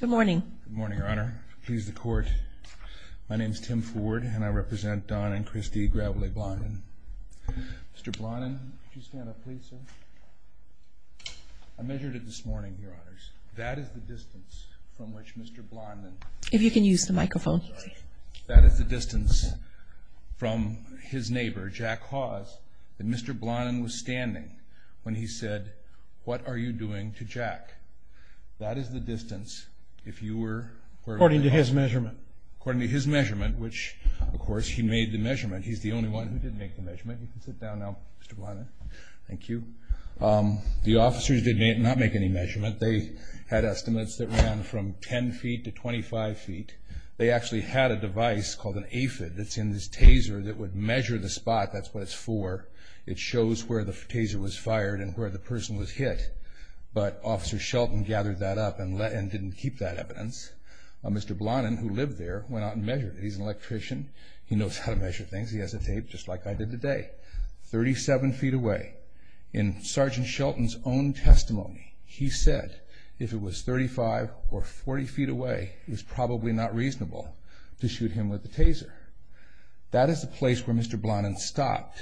Good morning. Good morning, Your Honor. Please the court. My name is Tim Ford and I represent Don and Christy Gravelet-Blondin. Mr. Blondin, could you stand up please, sir? I measured it this morning, Your Honors. That is the distance from which Mr. Blondin- If you can use the microphone. That is the distance from his neighbor, Jack Hawes, that Mr. Blondin was standing when he said, What are you doing to Jack? That is the distance if you were- According to his measurement. According to his measurement, which, of course, he made the measurement. He's the only one who did make the measurement. You can sit down now, Mr. Blondin. Thank you. The officers did not make any measurement. They had estimates that ran from 10 feet to 25 feet. They actually had a device called an AFID that's in this taser that would measure the spot. That's what it's for. It shows where the taser was fired and where the person was hit. But Officer Shelton gathered that up and didn't keep that evidence. Mr. Blondin, who lived there, went out and measured it. He's an electrician. He knows how to measure things. He has a tape, just like I did today. 37 feet away. In Sergeant Shelton's own testimony, he said if it was 35 or 40 feet away, it was probably not reasonable to shoot him with the taser. That is the place where Mr. Blondin stopped.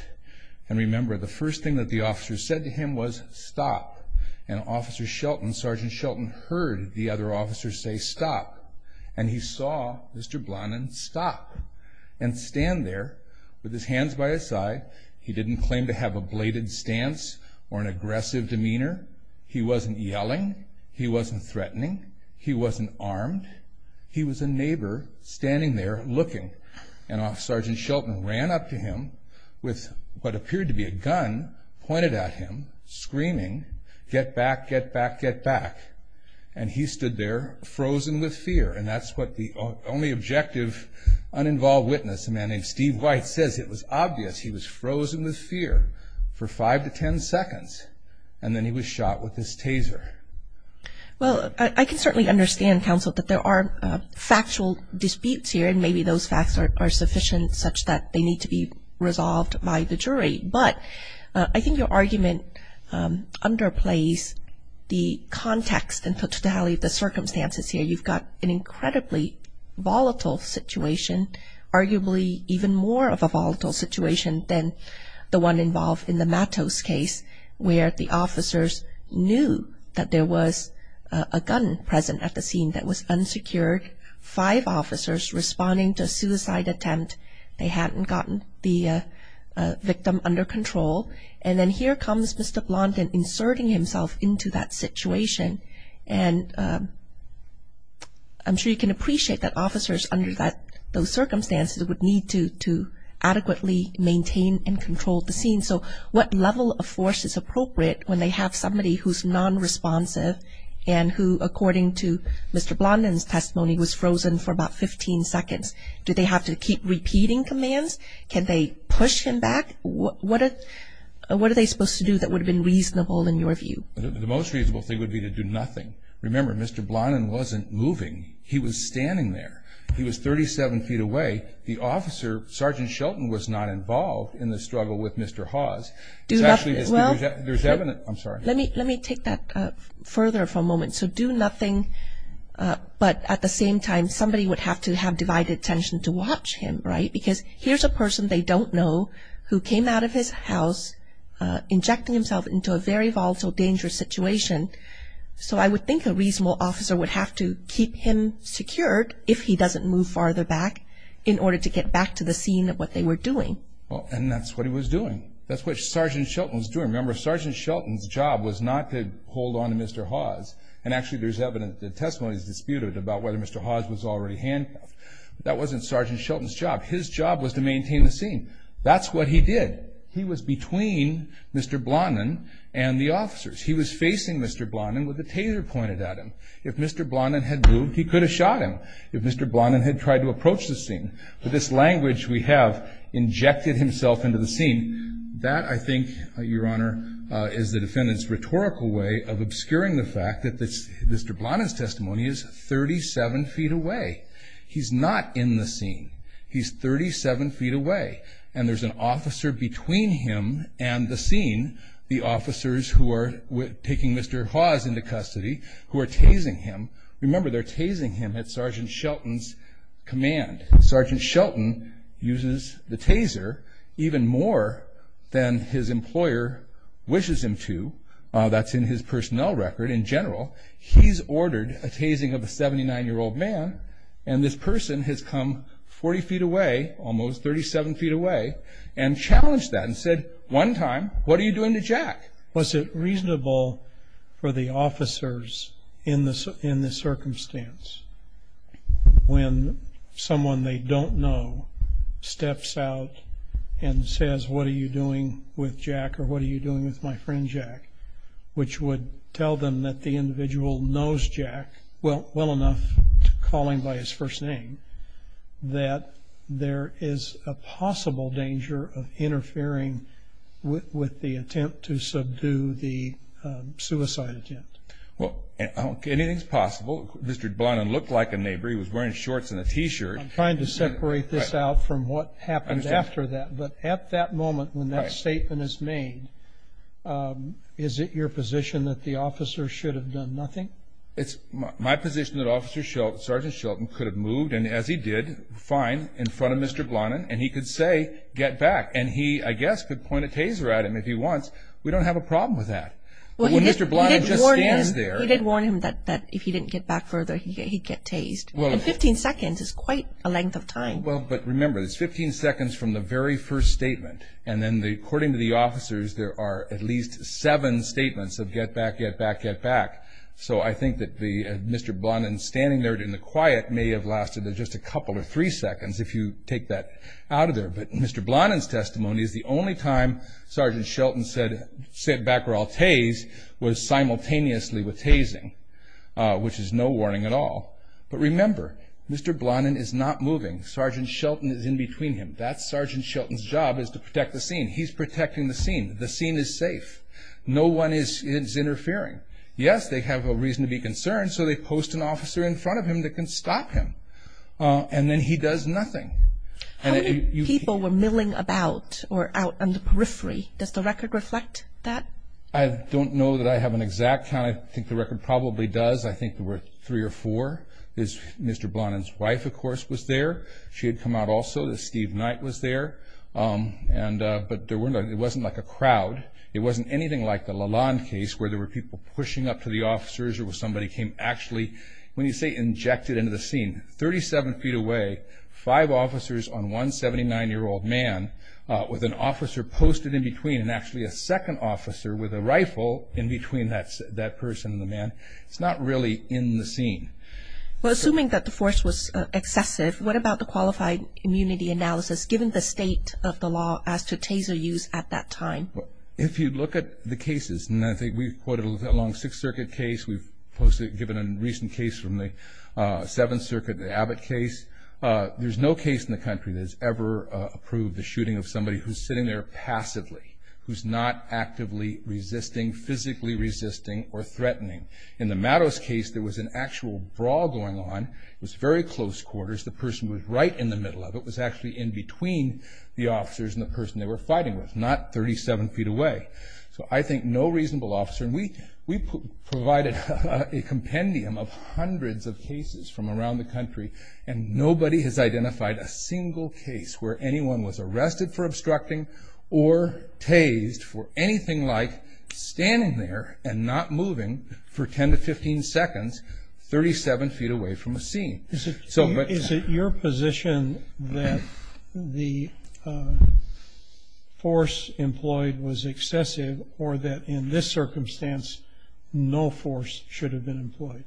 And remember, the first thing that the officers said to him was, Stop. And Officer Shelton, Sergeant Shelton, heard the other officers say, Stop. And he saw Mr. Blondin stop and stand there with his hands by his side. He didn't claim to have a bladed stance or an aggressive demeanor. He wasn't yelling. He wasn't threatening. He wasn't armed. He was a neighbor standing there looking. And Officer Shelton ran up to him with what appeared to be a gun pointed at him, screaming, Get back, get back, get back. And he stood there frozen with fear. And that's what the only objective uninvolved witness, a man named Steve White, says. It was obvious he was frozen with fear for five to ten seconds. And then he was shot with his taser. Well, I can certainly understand, Counsel, that there are factual disputes here, and maybe those facts are sufficient such that they need to be resolved by the jury. But I think your argument underplays the context and totality of the circumstances here. You've got an incredibly volatile situation, arguably even more of a volatile situation than the one involved in the Matos case, where the officers knew that there was a gun present at the scene that was unsecured, five officers responding to a suicide attempt. They hadn't gotten the victim under control. And then here comes Mr. Blondin inserting himself into that situation. And I'm sure you can appreciate that officers under those circumstances would need to adequately maintain and control the scene. So what level of force is appropriate when they have somebody who's nonresponsive and who, according to Mr. Blondin's testimony, was frozen for about 15 seconds? Do they have to keep repeating commands? Can they push him back? What are they supposed to do that would have been reasonable in your view? The most reasonable thing would be to do nothing. Remember, Mr. Blondin wasn't moving. He was standing there. He was 37 feet away. The officer, Sergeant Shelton, was not involved in the struggle with Mr. Hawes. Do nothing. Well, let me take that further for a moment. So do nothing, but at the same time somebody would have to have divided attention to watch him, right? Because here's a person they don't know who came out of his house injecting himself into a very volatile, dangerous situation. So I would think a reasonable officer would have to keep him secured if he doesn't move farther back in order to get back to the scene of what they were doing. And that's what he was doing. That's what Sergeant Shelton was doing. Remember, Sergeant Shelton's job was not to hold on to Mr. Hawes, and actually there's evidence, the testimony is disputed, about whether Mr. Hawes was already handcuffed. That wasn't Sergeant Shelton's job. His job was to maintain the scene. That's what he did. He was between Mr. Blondin and the officers. He was facing Mr. Blondin with the taser pointed at him. If Mr. Blondin had moved, he could have shot him. If Mr. Blondin had tried to approach the scene, with this language we have, injected himself into the scene, that, I think, Your Honor, is the defendant's rhetorical way of obscuring the fact that Mr. Blondin's testimony is 37 feet away. He's not in the scene. He's 37 feet away, and there's an officer between him and the scene, the officers who are taking Mr. Hawes into custody, who are tasing him. Remember, they're tasing him at Sergeant Shelton's command. Sergeant Shelton uses the taser even more than his employer wishes him to. That's in his personnel record in general. He's ordered a tasing of a 79-year-old man, and this person has come 40 feet away, almost 37 feet away, and challenged that and said one time, What are you doing to Jack? Was it reasonable for the officers, in this circumstance, when someone they don't know steps out and says, What are you doing with Jack or what are you doing with my friend Jack, which would tell them that the individual knows Jack well enough, calling by his first name, that there is a possible danger of interfering with the attempt to subdue the suicide attempt. Anything is possible. Mr. Blonin looked like a neighbor. He was wearing shorts and a T-shirt. I'm trying to separate this out from what happened after that, but at that moment when that statement is made, is it your position that the officer should have done nothing? It's my position that Sergeant Shelton could have moved, and as he did, fine, in front of Mr. Blonin, and he could say, Get back. And he, I guess, could point a taser at him if he wants. We don't have a problem with that. Well, Mr. Blonin just stands there. He did warn him that if he didn't get back further, he'd get tased. And 15 seconds is quite a length of time. Well, but remember, it's 15 seconds from the very first statement, and then according to the officers, there are at least seven statements of get back, get back, get back. So I think that Mr. Blonin standing there in the quiet may have lasted just a couple or three seconds if you take that out of there. But Mr. Blonin's testimony is the only time Sergeant Shelton said, Sit back or I'll tase, was simultaneously with tasing, which is no warning at all. But remember, Mr. Blonin is not moving. Sergeant Shelton is in between him. That's Sergeant Shelton's job is to protect the scene. He's protecting the scene. The scene is safe. No one is interfering. Yes, they have a reason to be concerned, so they post an officer in front of him that can stop him. And then he does nothing. How many people were milling about or out on the periphery? Does the record reflect that? I don't know that I have an exact count. I think the record probably does. I think there were three or four. Mr. Blonin's wife, of course, was there. She had come out also. Steve Knight was there. But it wasn't like a crowd. It wasn't anything like the Lalonde case where there were people pushing up to the officers or somebody came actually, when you say injected into the scene, 37 feet away, five officers on one 79-year-old man with an officer posted in between and actually a second officer with a rifle in between that person and the man. It's not really in the scene. Well, assuming that the force was excessive, what about the qualified immunity analysis given the state of the law as to taser use at that time? If you look at the cases, and I think we've quoted a long Sixth Circuit case, we've given a recent case from the Seventh Circuit, the Abbott case. There's no case in the country that has ever approved the shooting of somebody who's sitting there passively, who's not actively resisting, physically resisting, or threatening. In the Mattos case, there was an actual brawl going on. It was very close quarters. The person who was right in the middle of it was actually in between the officers and the person they were fighting with, not 37 feet away. So I think no reasonable officer, and we provided a compendium of hundreds of cases from around the country, and nobody has identified a single case where anyone was arrested for obstructing or tased for anything like standing there and not moving for 10 to 15 seconds 37 feet away from a scene. Is it your position that the force employed was excessive, or that in this circumstance no force should have been employed?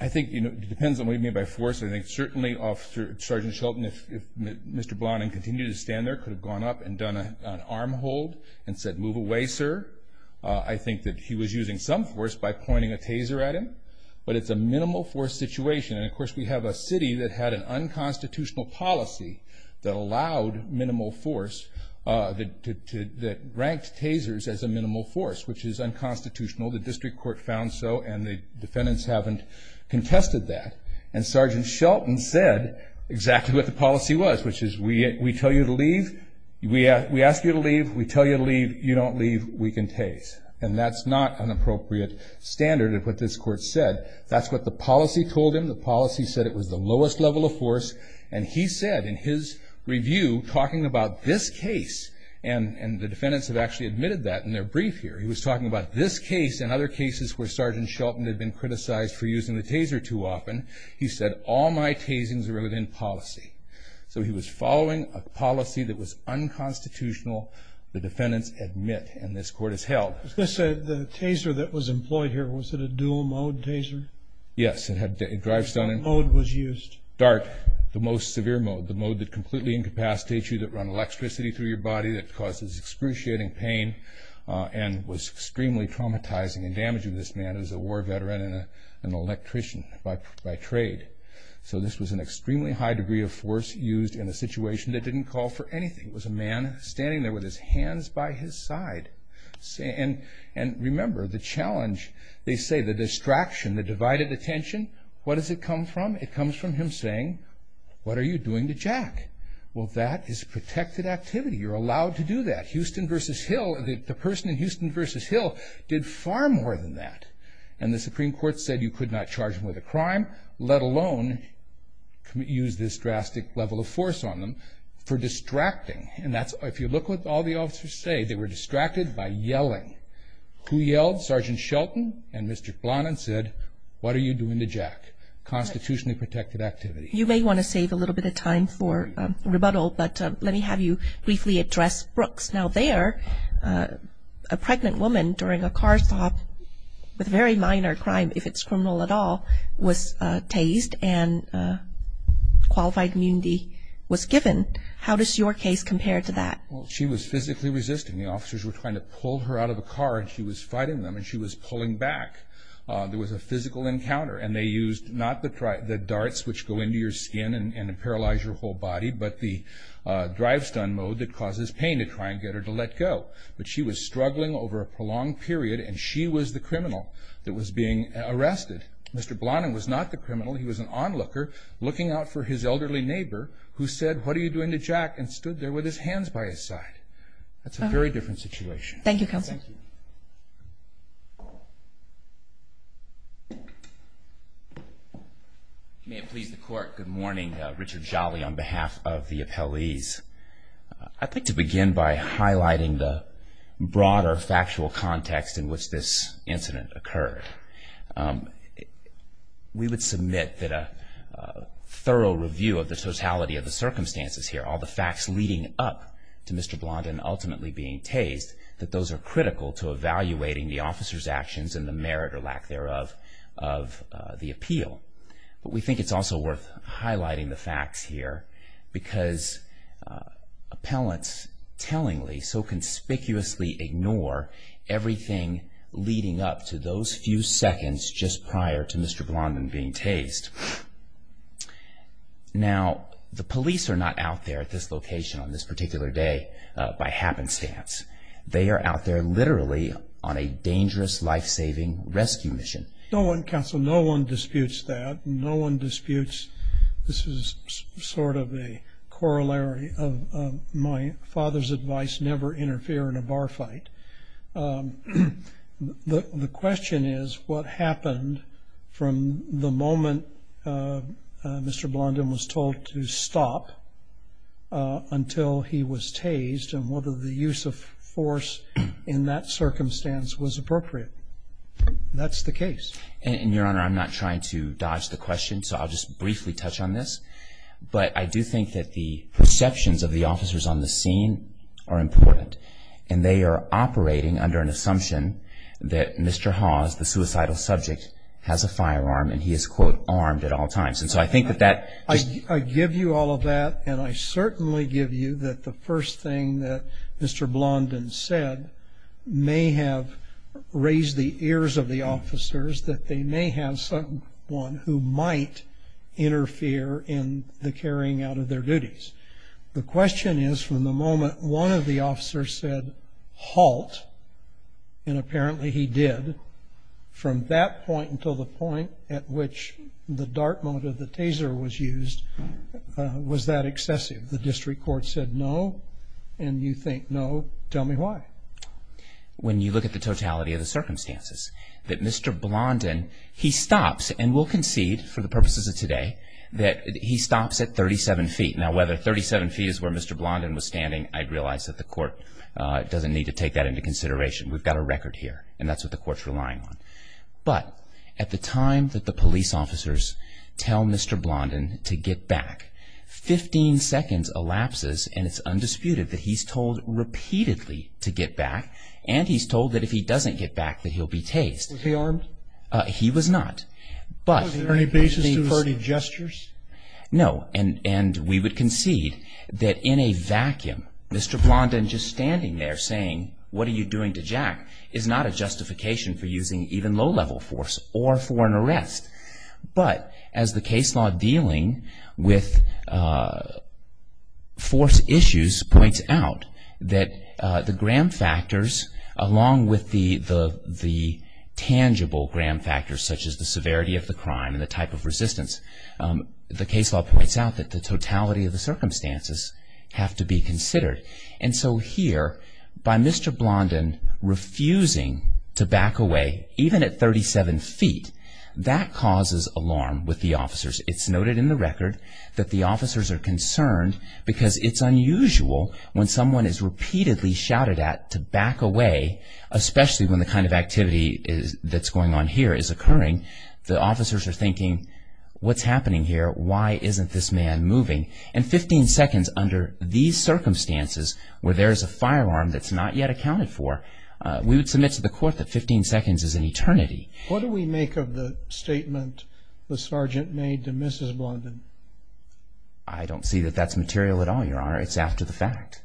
I think it depends on what you mean by force. I think certainly Sergeant Shelton, if Mr. Blonding continued to stand there, could have gone up and done an arm hold and said, move away, sir. I think that he was using some force by pointing a taser at him, but it's a minimal force situation. And, of course, we have a city that had an unconstitutional policy that allowed minimal force, that ranked tasers as a minimal force, which is unconstitutional. The district court found so, and the defendants haven't contested that. And Sergeant Shelton said exactly what the policy was, which is, we tell you to leave, we ask you to leave, we tell you to leave, you don't leave, we can tase. And that's not an appropriate standard of what this court said. That's what the policy told him. The policy said it was the lowest level of force. And he said in his review, talking about this case, and the defendants have actually admitted that in their brief here, he was talking about this case and other cases where Sergeant Shelton had been criticized for using the taser too often, he said, all my tasings are within policy. So he was following a policy that was unconstitutional, the defendants admit, and this court has held. The taser that was employed here, was it a dual mode taser? Yes. What mode was used? Dark. The most severe mode, the mode that completely incapacitates you, that run electricity through your body, that causes excruciating pain, and was extremely traumatizing and damaging to this man who was a war veteran and an electrician by trade. So this was an extremely high degree of force used in a situation that didn't call for anything. It was a man standing there with his hands by his side. And remember, the challenge, they say the distraction, the divided attention, what does it come from? It comes from him saying, what are you doing to Jack? Well, that is protected activity. You're allowed to do that. Houston versus Hill, the person in Houston versus Hill, did far more than that. And the Supreme Court said you could not charge him with a crime, let alone use this drastic level of force on them for distracting. And if you look what all the officers say, they were distracted by yelling. Who yelled? Sergeant Shelton and Mr. Flanagan said, what are you doing to Jack? Constitutionally protected activity. You may want to save a little bit of time for rebuttal, but let me have you briefly address Brooks. Now there, a pregnant woman during a car stop with very minor crime, if it's criminal at all, was tased and qualified immunity was given. How does your case compare to that? Well, she was physically resisting. The officers were trying to pull her out of the car, and she was fighting them, and she was pulling back. There was a physical encounter, and they used not the darts, which go into your skin and paralyze your whole body, but the drive-stun mode that causes pain to try and get her to let go. But she was struggling over a prolonged period, and she was the criminal that was being arrested. Mr. Flanagan was not the criminal. He was an onlooker looking out for his elderly neighbor who said, what are you doing to Jack, and stood there with his hands by his side. That's a very different situation. Thank you, Counsel. Thank you. May it please the Court, good morning. Richard Jolly on behalf of the appellees. I'd like to begin by highlighting the broader factual context in which this incident occurred. We would submit that a thorough review of the totality of the circumstances here, all the facts leading up to Mr. Blondin ultimately being tased, that those are critical to evaluating the officer's actions and the merit or lack thereof of the appeal. But we think it's also worth highlighting the facts here, because appellants tellingly so conspicuously ignore everything leading up to those few seconds just prior to Mr. Blondin being tased. Now, the police are not out there at this location on this particular day by happenstance. They are out there literally on a dangerous, life-saving rescue mission. No one, Counsel, no one disputes that. No one disputes this is sort of a corollary of my father's advice, never interfere in a bar fight. The question is what happened from the moment Mr. Blondin was told to stop until he was tased and whether the use of force in that circumstance was appropriate. That's the case. And, Your Honor, I'm not trying to dodge the question, so I'll just briefly touch on this. But I do think that the perceptions of the officers on the scene are important, and they are operating under an assumption that Mr. Hawes, the suicidal subject, has a firearm, and he is, quote, armed at all times. And so I think that that just ---- I give you all of that, and I certainly give you that the first thing that Mr. Blondin said may have raised the ears of the officers that they may have someone who might interfere in the carrying out of their duties. The question is from the moment one of the officers said halt, and apparently he did, from that point until the point at which the dart mode of the taser was used, was that excessive? The district court said no, and you think no. Tell me why. When you look at the totality of the circumstances, that Mr. Blondin, he stops, and we'll concede for the purposes of today, that he stops at 37 feet. Now, whether 37 feet is where Mr. Blondin was standing, I realize that the court doesn't need to take that into consideration. We've got a record here, and that's what the court's relying on. But at the time that the police officers tell Mr. Blondin to get back, 15 seconds elapses, and it's undisputed that he's told repeatedly to get back, and he's told that if he doesn't get back that he'll be tased. Was he armed? He was not. Was there any basis for any gestures? No, and we would concede that in a vacuum, Mr. Blondin just standing there saying, what are you doing to Jack, is not a justification for using even low-level force or for an arrest. But as the case law dealing with force issues points out, that the gram factors along with the tangible gram factors such as the severity of the crime and the type of resistance, the case law points out that the totality of the circumstances have to be considered. And so here, by Mr. Blondin refusing to back away, even at 37 feet, that causes alarm with the officers. It's noted in the record that the officers are concerned because it's unusual when someone is repeatedly shouted at to back away, especially when the kind of activity that's going on here is occurring. The officers are thinking, what's happening here? Why isn't this man moving? And 15 seconds under these circumstances where there is a firearm that's not yet accounted for, we would submit to the court that 15 seconds is an eternity. What do we make of the statement the sergeant made to Mrs. Blondin? I don't see that that's material at all, Your Honor. It's after the fact.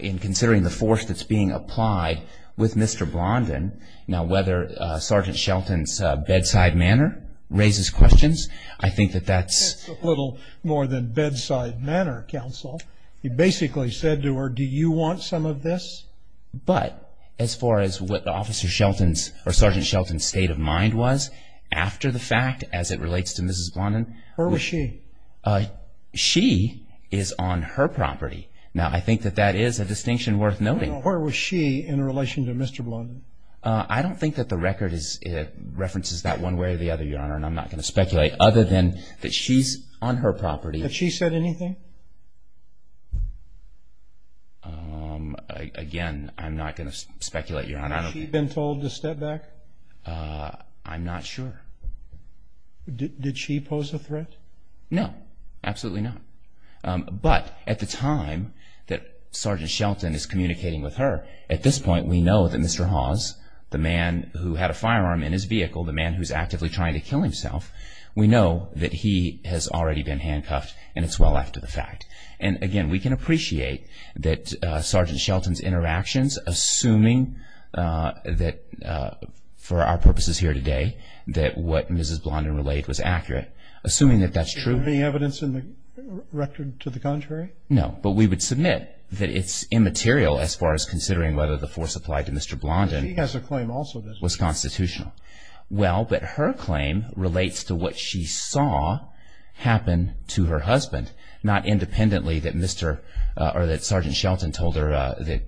In considering the force that's being applied with Mr. Blondin, now whether Sergeant Shelton's bedside manner raises questions, I think that that's... It's a little more than bedside manner, counsel. He basically said to her, do you want some of this? But as far as what Officer Shelton's or Sergeant Shelton's state of mind was, after the fact as it relates to Mrs. Blondin... Where was she? She is on her property. Now, I think that that is a distinction worth noting. Where was she in relation to Mr. Blondin? I don't think that the record references that one way or the other, Your Honor, and I'm not going to speculate other than that she's on her property. Had she said anything? Again, I'm not going to speculate, Your Honor. Had she been told to step back? I'm not sure. Did she pose a threat? No, absolutely not. But at the time that Sergeant Shelton is communicating with her, at this point we know that Mr. Hawes, the man who had a firearm in his vehicle, the man who's actively trying to kill himself, we know that he has already been handcuffed and it's well after the fact. And, again, we can appreciate that Sergeant Shelton's interactions, assuming that for our purposes here today that what Mrs. Blondin relayed was accurate, assuming that that's true. Was there any evidence in the record to the contrary? No, but we would submit that it's immaterial as far as considering whether the force applied to Mr. Blondin was constitutional. Well, but her claim relates to what she saw happen to her husband, not independently that Sergeant Shelton told her that,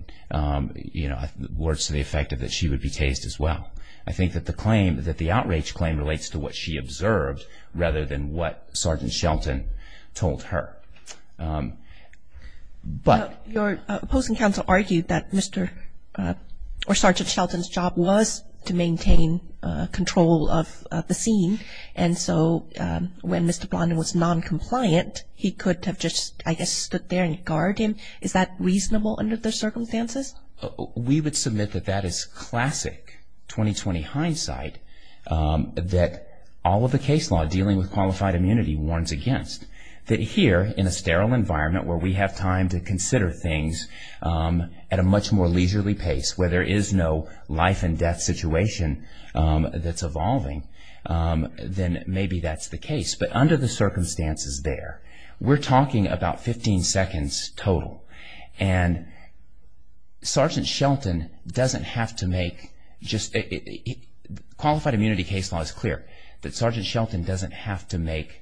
you know, words to the effect that she would be tased as well. I think that the claim, that the outrage claim, relates to what she observed rather than what Sergeant Shelton told her. But your opposing counsel argued that Mr. or Sergeant Shelton's job was to maintain control of the scene. And so when Mr. Blondin was noncompliant, he could have just, I guess, stood there and guarded him. Is that reasonable under the circumstances? We would submit that that is classic 2020 hindsight that all of the case law dealing with qualified immunity warns against. That here, in a sterile environment where we have time to consider things at a much more leisurely pace, where there is no life and death situation that's evolving, then maybe that's the case. But under the circumstances there, we're talking about 15 seconds total. And Sergeant Shelton doesn't have to make just, qualified immunity case law is clear, that Sergeant Shelton doesn't have to make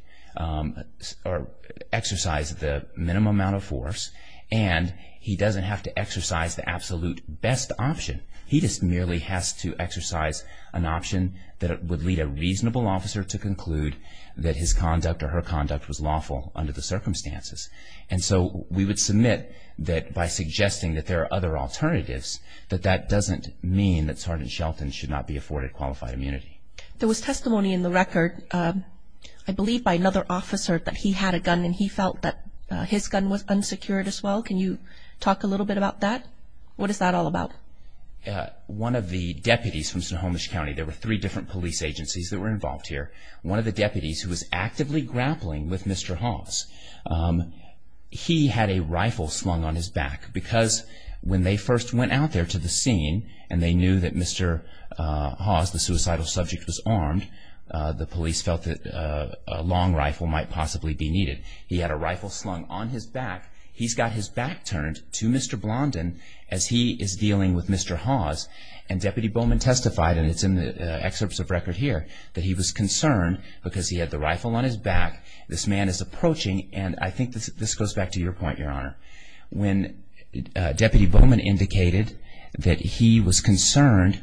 or exercise the minimum amount of force, and he doesn't have to exercise the absolute best option. He just merely has to exercise an option that would lead a reasonable officer to conclude that his conduct or her conduct was lawful under the circumstances. And so we would submit that by suggesting that there are other alternatives, that that doesn't mean that Sergeant Shelton should not be afforded qualified immunity. There was testimony in the record, I believe by another officer, that he had a gun and he felt that his gun was unsecured as well. Can you talk a little bit about that? What is that all about? One of the deputies from Snohomish County, there were three different police agencies that were involved here. One of the deputies who was actively grappling with Mr. Hawes, he had a rifle slung on his back because when they first went out there to the scene and they knew that Mr. Hawes, the suicidal subject, was armed, the police felt that a long rifle might possibly be needed. He had a rifle slung on his back. He's got his back turned to Mr. Blondin as he is dealing with Mr. Hawes. And Deputy Bowman testified, and it's in the excerpts of record here, that he was concerned because he had the rifle on his back. This man is approaching, and I think this goes back to your point, Your Honor. When Deputy Bowman indicated that he was concerned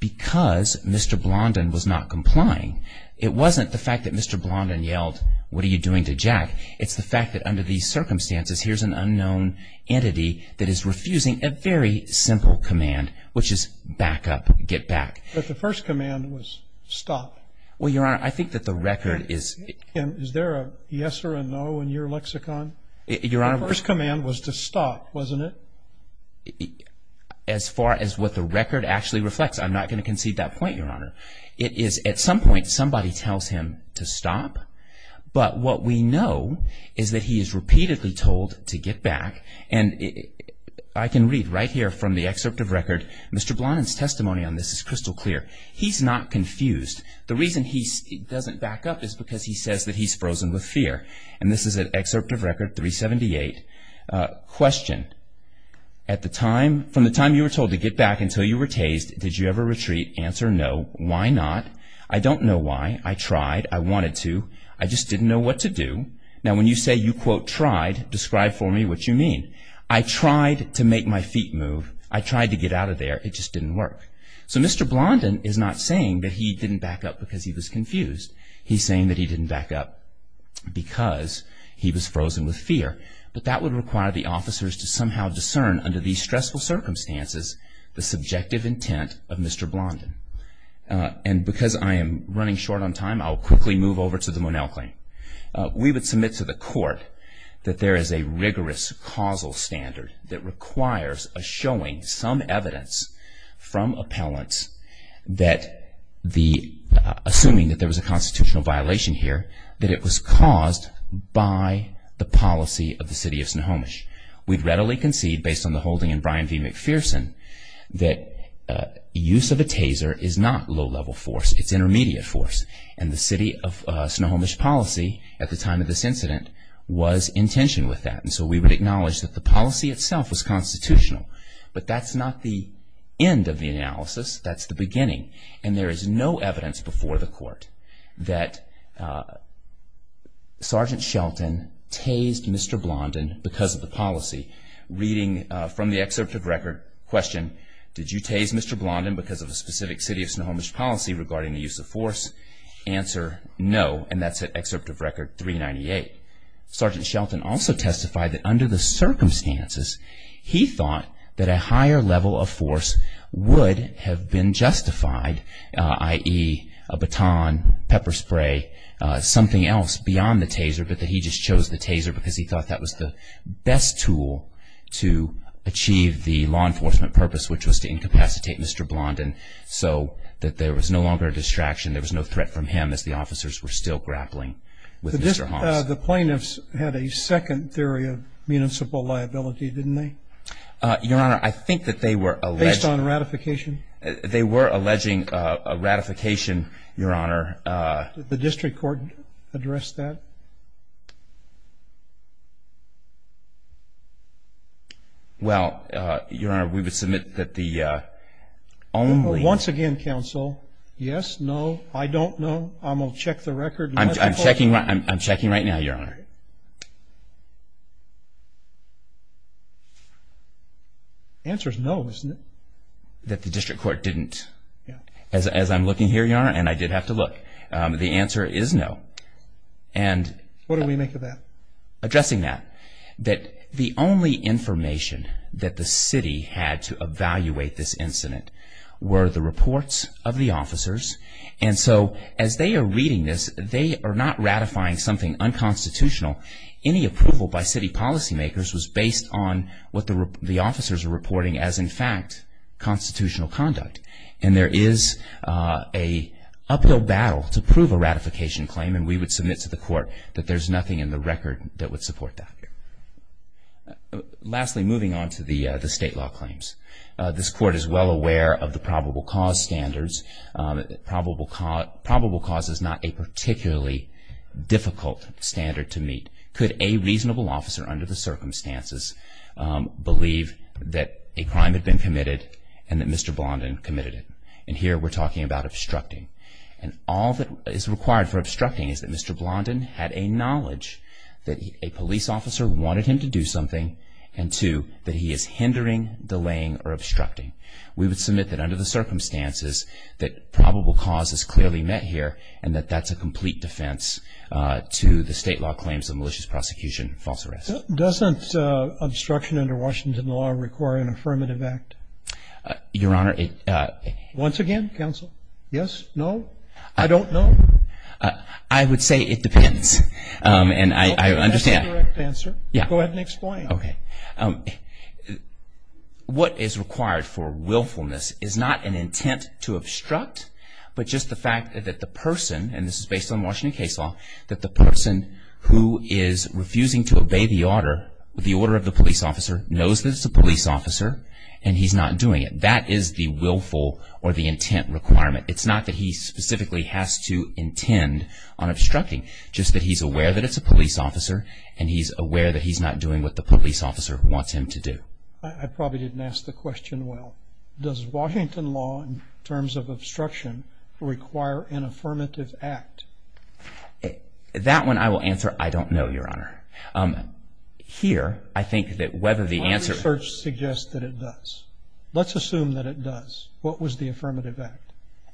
because Mr. Blondin was not complying, it wasn't the fact that Mr. Blondin yelled, what are you doing to Jack? It's the fact that under these circumstances, here's an unknown entity that is refusing a very simple command, which is back up, get back. But the first command was stop. Well, Your Honor, I think that the record is... And is there a yes or a no in your lexicon? Your Honor... The first command was to stop, wasn't it? As far as what the record actually reflects, I'm not going to concede that point, Your Honor. It is at some point somebody tells him to stop, but what we know is that he is repeatedly told to get back. And I can read right here from the excerpt of record, Mr. Blondin's testimony on this is crystal clear. He's not confused. The reason he doesn't back up is because he says that he's frozen with fear. And this is an excerpt of record 378. Question. From the time you were told to get back until you were tased, did you ever retreat? Answer no. Why not? I don't know why. I tried. I wanted to. I just didn't know what to do. Now, when you say you, quote, tried, describe for me what you mean. I tried to make my feet move. I tried to get out of there. It just didn't work. So Mr. Blondin is not saying that he didn't back up because he was confused. He's saying that he didn't back up because he was frozen with fear. But that would require the officers to somehow discern, under these stressful circumstances, the subjective intent of Mr. Blondin. And because I am running short on time, I'll quickly move over to the Monell claim. We would submit to the court that there is a rigorous causal standard that requires a showing, some evidence from appellants, assuming that there was a constitutional violation here, that it was caused by the policy of the city of Snohomish. We'd readily concede, based on the holding in Brian V. McPherson, that use of a taser is not low-level force. It's intermediate force. And the city of Snohomish policy, at the time of this incident, was in tension with that. And so we would acknowledge that the policy itself was constitutional. But that's not the end of the analysis. That's the beginning. And there is no evidence before the court that Sergeant Shelton tased Mr. Blondin because of the policy. Reading from the excerpt of record, question, did you tase Mr. Blondin because of a specific city of Snohomish policy regarding the use of force? Answer, no. And that's at excerpt of record 398. Sergeant Shelton also testified that under the circumstances, he thought that a higher level of force would have been justified, i.e., a baton, pepper spray, something else beyond the taser, but that he just chose the taser because he thought that was the best tool to achieve the law enforcement purpose, which was to incapacitate Mr. Blondin so that there was no longer a distraction, there was no threat from him, as the officers were still grappling with Mr. Haas. The plaintiffs had a second theory of municipal liability, didn't they? Your Honor, I think that they were alleging. Based on ratification? They were alleging a ratification, Your Honor. Did the district court address that? Well, Your Honor, we would submit that the only. Once again, counsel, yes, no, I don't know. I'm going to check the record. I'm checking right now, Your Honor. The answer is no, isn't it? That the district court didn't. As I'm looking here, Your Honor, and I did have to look, the answer is no. What did we make of that? Addressing that, that the only information that the city had to evaluate this incident were the reports of the officers, and so as they are reading this, they are not ratifying something unconstitutional. Any approval by city policymakers was based on what the officers were reporting as, in fact, constitutional conduct, and there is an uphill battle to prove a ratification claim, and we would submit to the court that there's nothing in the record that would support that. Lastly, moving on to the state law claims. This court is well aware of the probable cause standards. Probable cause is not a particularly difficult standard to meet. Could a reasonable officer, under the circumstances, believe that a crime had been committed and that Mr. Blondin committed it? And here we're talking about obstructing, and all that is required for obstructing is that Mr. Blondin had a knowledge that a police officer wanted him to do something, and two, that he is hindering, delaying, or obstructing. We would submit that under the circumstances, that probable cause is clearly met here, and that that's a complete defense to the state law claims of malicious prosecution and false arrest. Doesn't obstruction under Washington law require an affirmative act? Your Honor. Once again, counsel? Yes? No? I don't know? I would say it depends, and I understand. That's a direct answer. Go ahead and explain. Okay. What is required for willfulness is not an intent to obstruct, but just the fact that the person, and this is based on Washington case law, that the person who is refusing to obey the order of the police officer knows that it's a police officer, and he's not doing it. That is the willful or the intent requirement. It's not that he specifically has to intend on obstructing, just that he's aware that it's a police officer, and he's aware that he's not doing what the police officer wants him to do. I probably didn't ask the question well. Does Washington law, in terms of obstruction, require an affirmative act? That one I will answer, I don't know, Your Honor. Here, I think that whether the answer My research suggests that it does. Let's assume that it does. What was the affirmative act?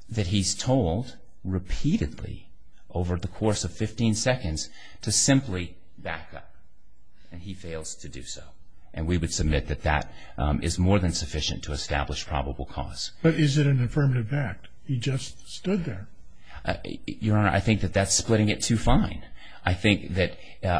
That he's told repeatedly, over the course of 15 seconds, to simply back up, and he fails to do so. We would submit that that is more than sufficient to establish probable cause. But is it an affirmative act? He just stood there. Your Honor, I think that that's splitting it too fine. I think that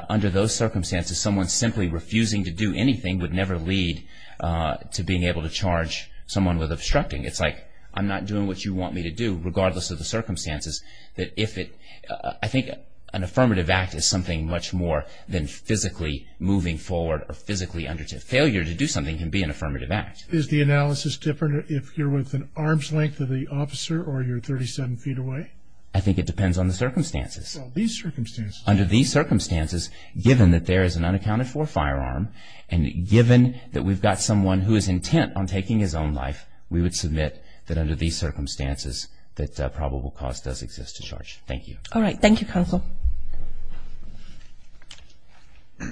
under those circumstances, someone simply refusing to do anything would never lead to being able to charge someone with obstructing. It's like, I'm not doing what you want me to do, regardless of the circumstances. I think an affirmative act is something much more than physically moving forward or physically under. Failure to do something can be an affirmative act. Is the analysis different if you're with an arm's length of the officer or you're 37 feet away? I think it depends on the circumstances. Well, these circumstances. Under these circumstances, given that there is an unaccounted-for firearm, and given that we've got someone who is intent on taking his own life, we would submit that under these circumstances that probable cause does exist to charge. Thank you. All right. Thank you, counsel. The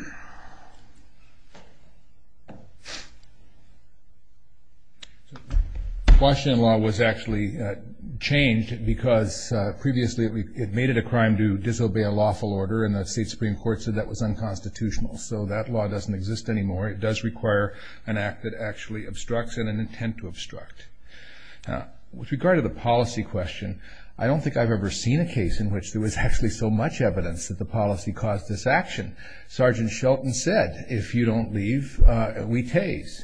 Washington law was actually changed because previously it made it a crime to disobey a lawful order, and the state Supreme Court said that was unconstitutional. So that law doesn't exist anymore. It does require an act that actually obstructs and an intent to obstruct. With regard to the policy question, I don't think I've ever seen a case in which there was actually so much evidence that the policy caused this action. Sergeant Shelton said, if you don't leave, we tase.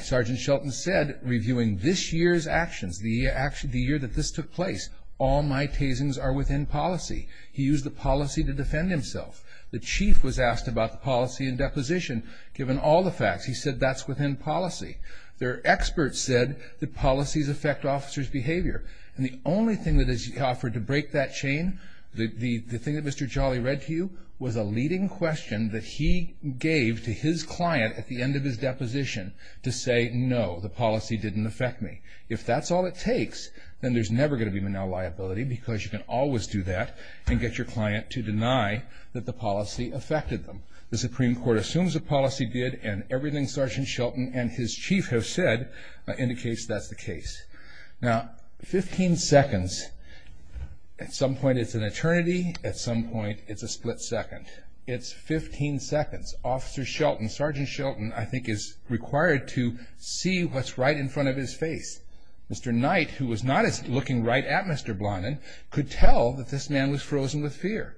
Sergeant Shelton said, reviewing this year's actions, the year that this took place, all my tasings are within policy. He used the policy to defend himself. The chief was asked about the policy and deposition. Given all the facts, he said that's within policy. There are experts that said that policies affect officers' behavior, and the only thing that is offered to break that chain, the thing that Mr. Jolly read to you, was a leading question that he gave to his client at the end of his deposition to say, no, the policy didn't affect me. If that's all it takes, then there's never going to be manel liability because you can always do that and get your client to deny that the policy affected them. The Supreme Court assumes the policy did, and everything Sergeant Shelton and his chief have said indicates that's the case. Now, 15 seconds, at some point it's an eternity, at some point it's a split second. It's 15 seconds. Officer Shelton, Sergeant Shelton, I think, is required to see what's right in front of his face. Mr. Knight, who was not looking right at Mr. Blondin, could tell that this man was frozen with fear.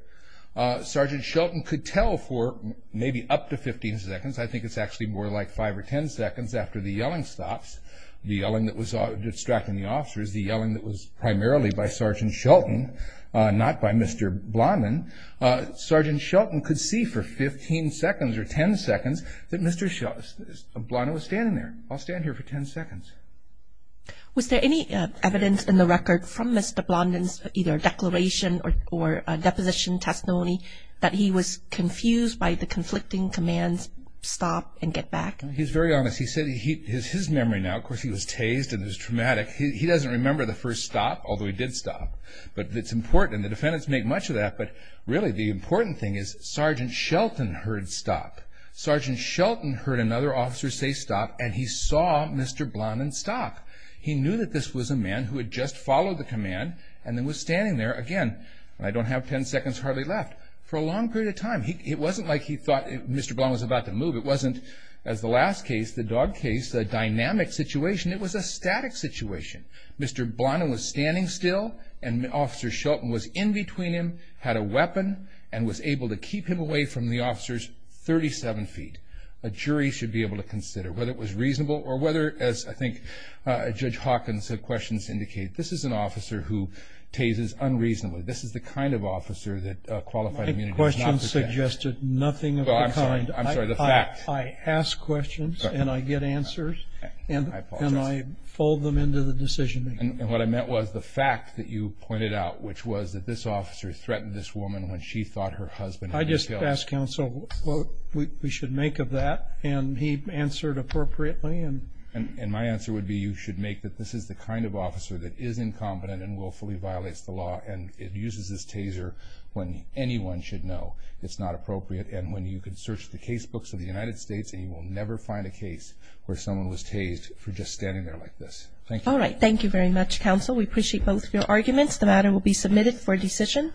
Sergeant Shelton could tell for maybe up to 15 seconds. I think it's actually more like 5 or 10 seconds after the yelling stops, the yelling that was distracting the officers, the yelling that was primarily by Sergeant Shelton, not by Mr. Blondin. Sergeant Shelton could see for 15 seconds or 10 seconds that Mr. Blondin was standing there. I'll stand here for 10 seconds. Was there any evidence in the record from Mr. Blondin's either declaration or deposition testimony that he was confused by the conflicting commands, stop and get back? He's very honest. He said his memory now, of course, he was tased and it was traumatic. He doesn't remember the first stop, although he did stop. But it's important, and the defendants make much of that, but really the important thing is Sergeant Shelton heard stop. Sergeant Shelton heard another officer say stop, and he saw Mr. Blondin stop. He knew that this was a man who had just followed the command and then was standing there again, and I don't have 10 seconds hardly left, for a long period of time. It wasn't like he thought Mr. Blondin was about to move. It wasn't, as the last case, the dog case, a dynamic situation. It was a static situation. Mr. Blondin was standing still, and Officer Shelton was in between him, had a weapon, and was able to keep him away from the officers 37 feet. A jury should be able to consider whether it was reasonable or whether, as I think Judge Hawkins' questions indicate, this is an officer who tases unreasonably. This is the kind of officer that qualified immunity does not protect. My questions suggested nothing of the kind. I'm sorry, the fact. I ask questions, and I get answers, and I fold them into the decision-making. And what I meant was the fact that you pointed out, which was that this officer threatened this woman when she thought her husband had been killed. I just asked counsel what we should make of that, and he answered appropriately. And my answer would be you should make that this is the kind of officer that is incompetent and willfully violates the law, and uses his taser when anyone should know it's not appropriate, and when you can search the casebooks of the United States, and you will never find a case where someone was tased for just standing there like this. Thank you. All right, thank you very much, counsel. We appreciate both your arguments. The matter will be submitted for decision.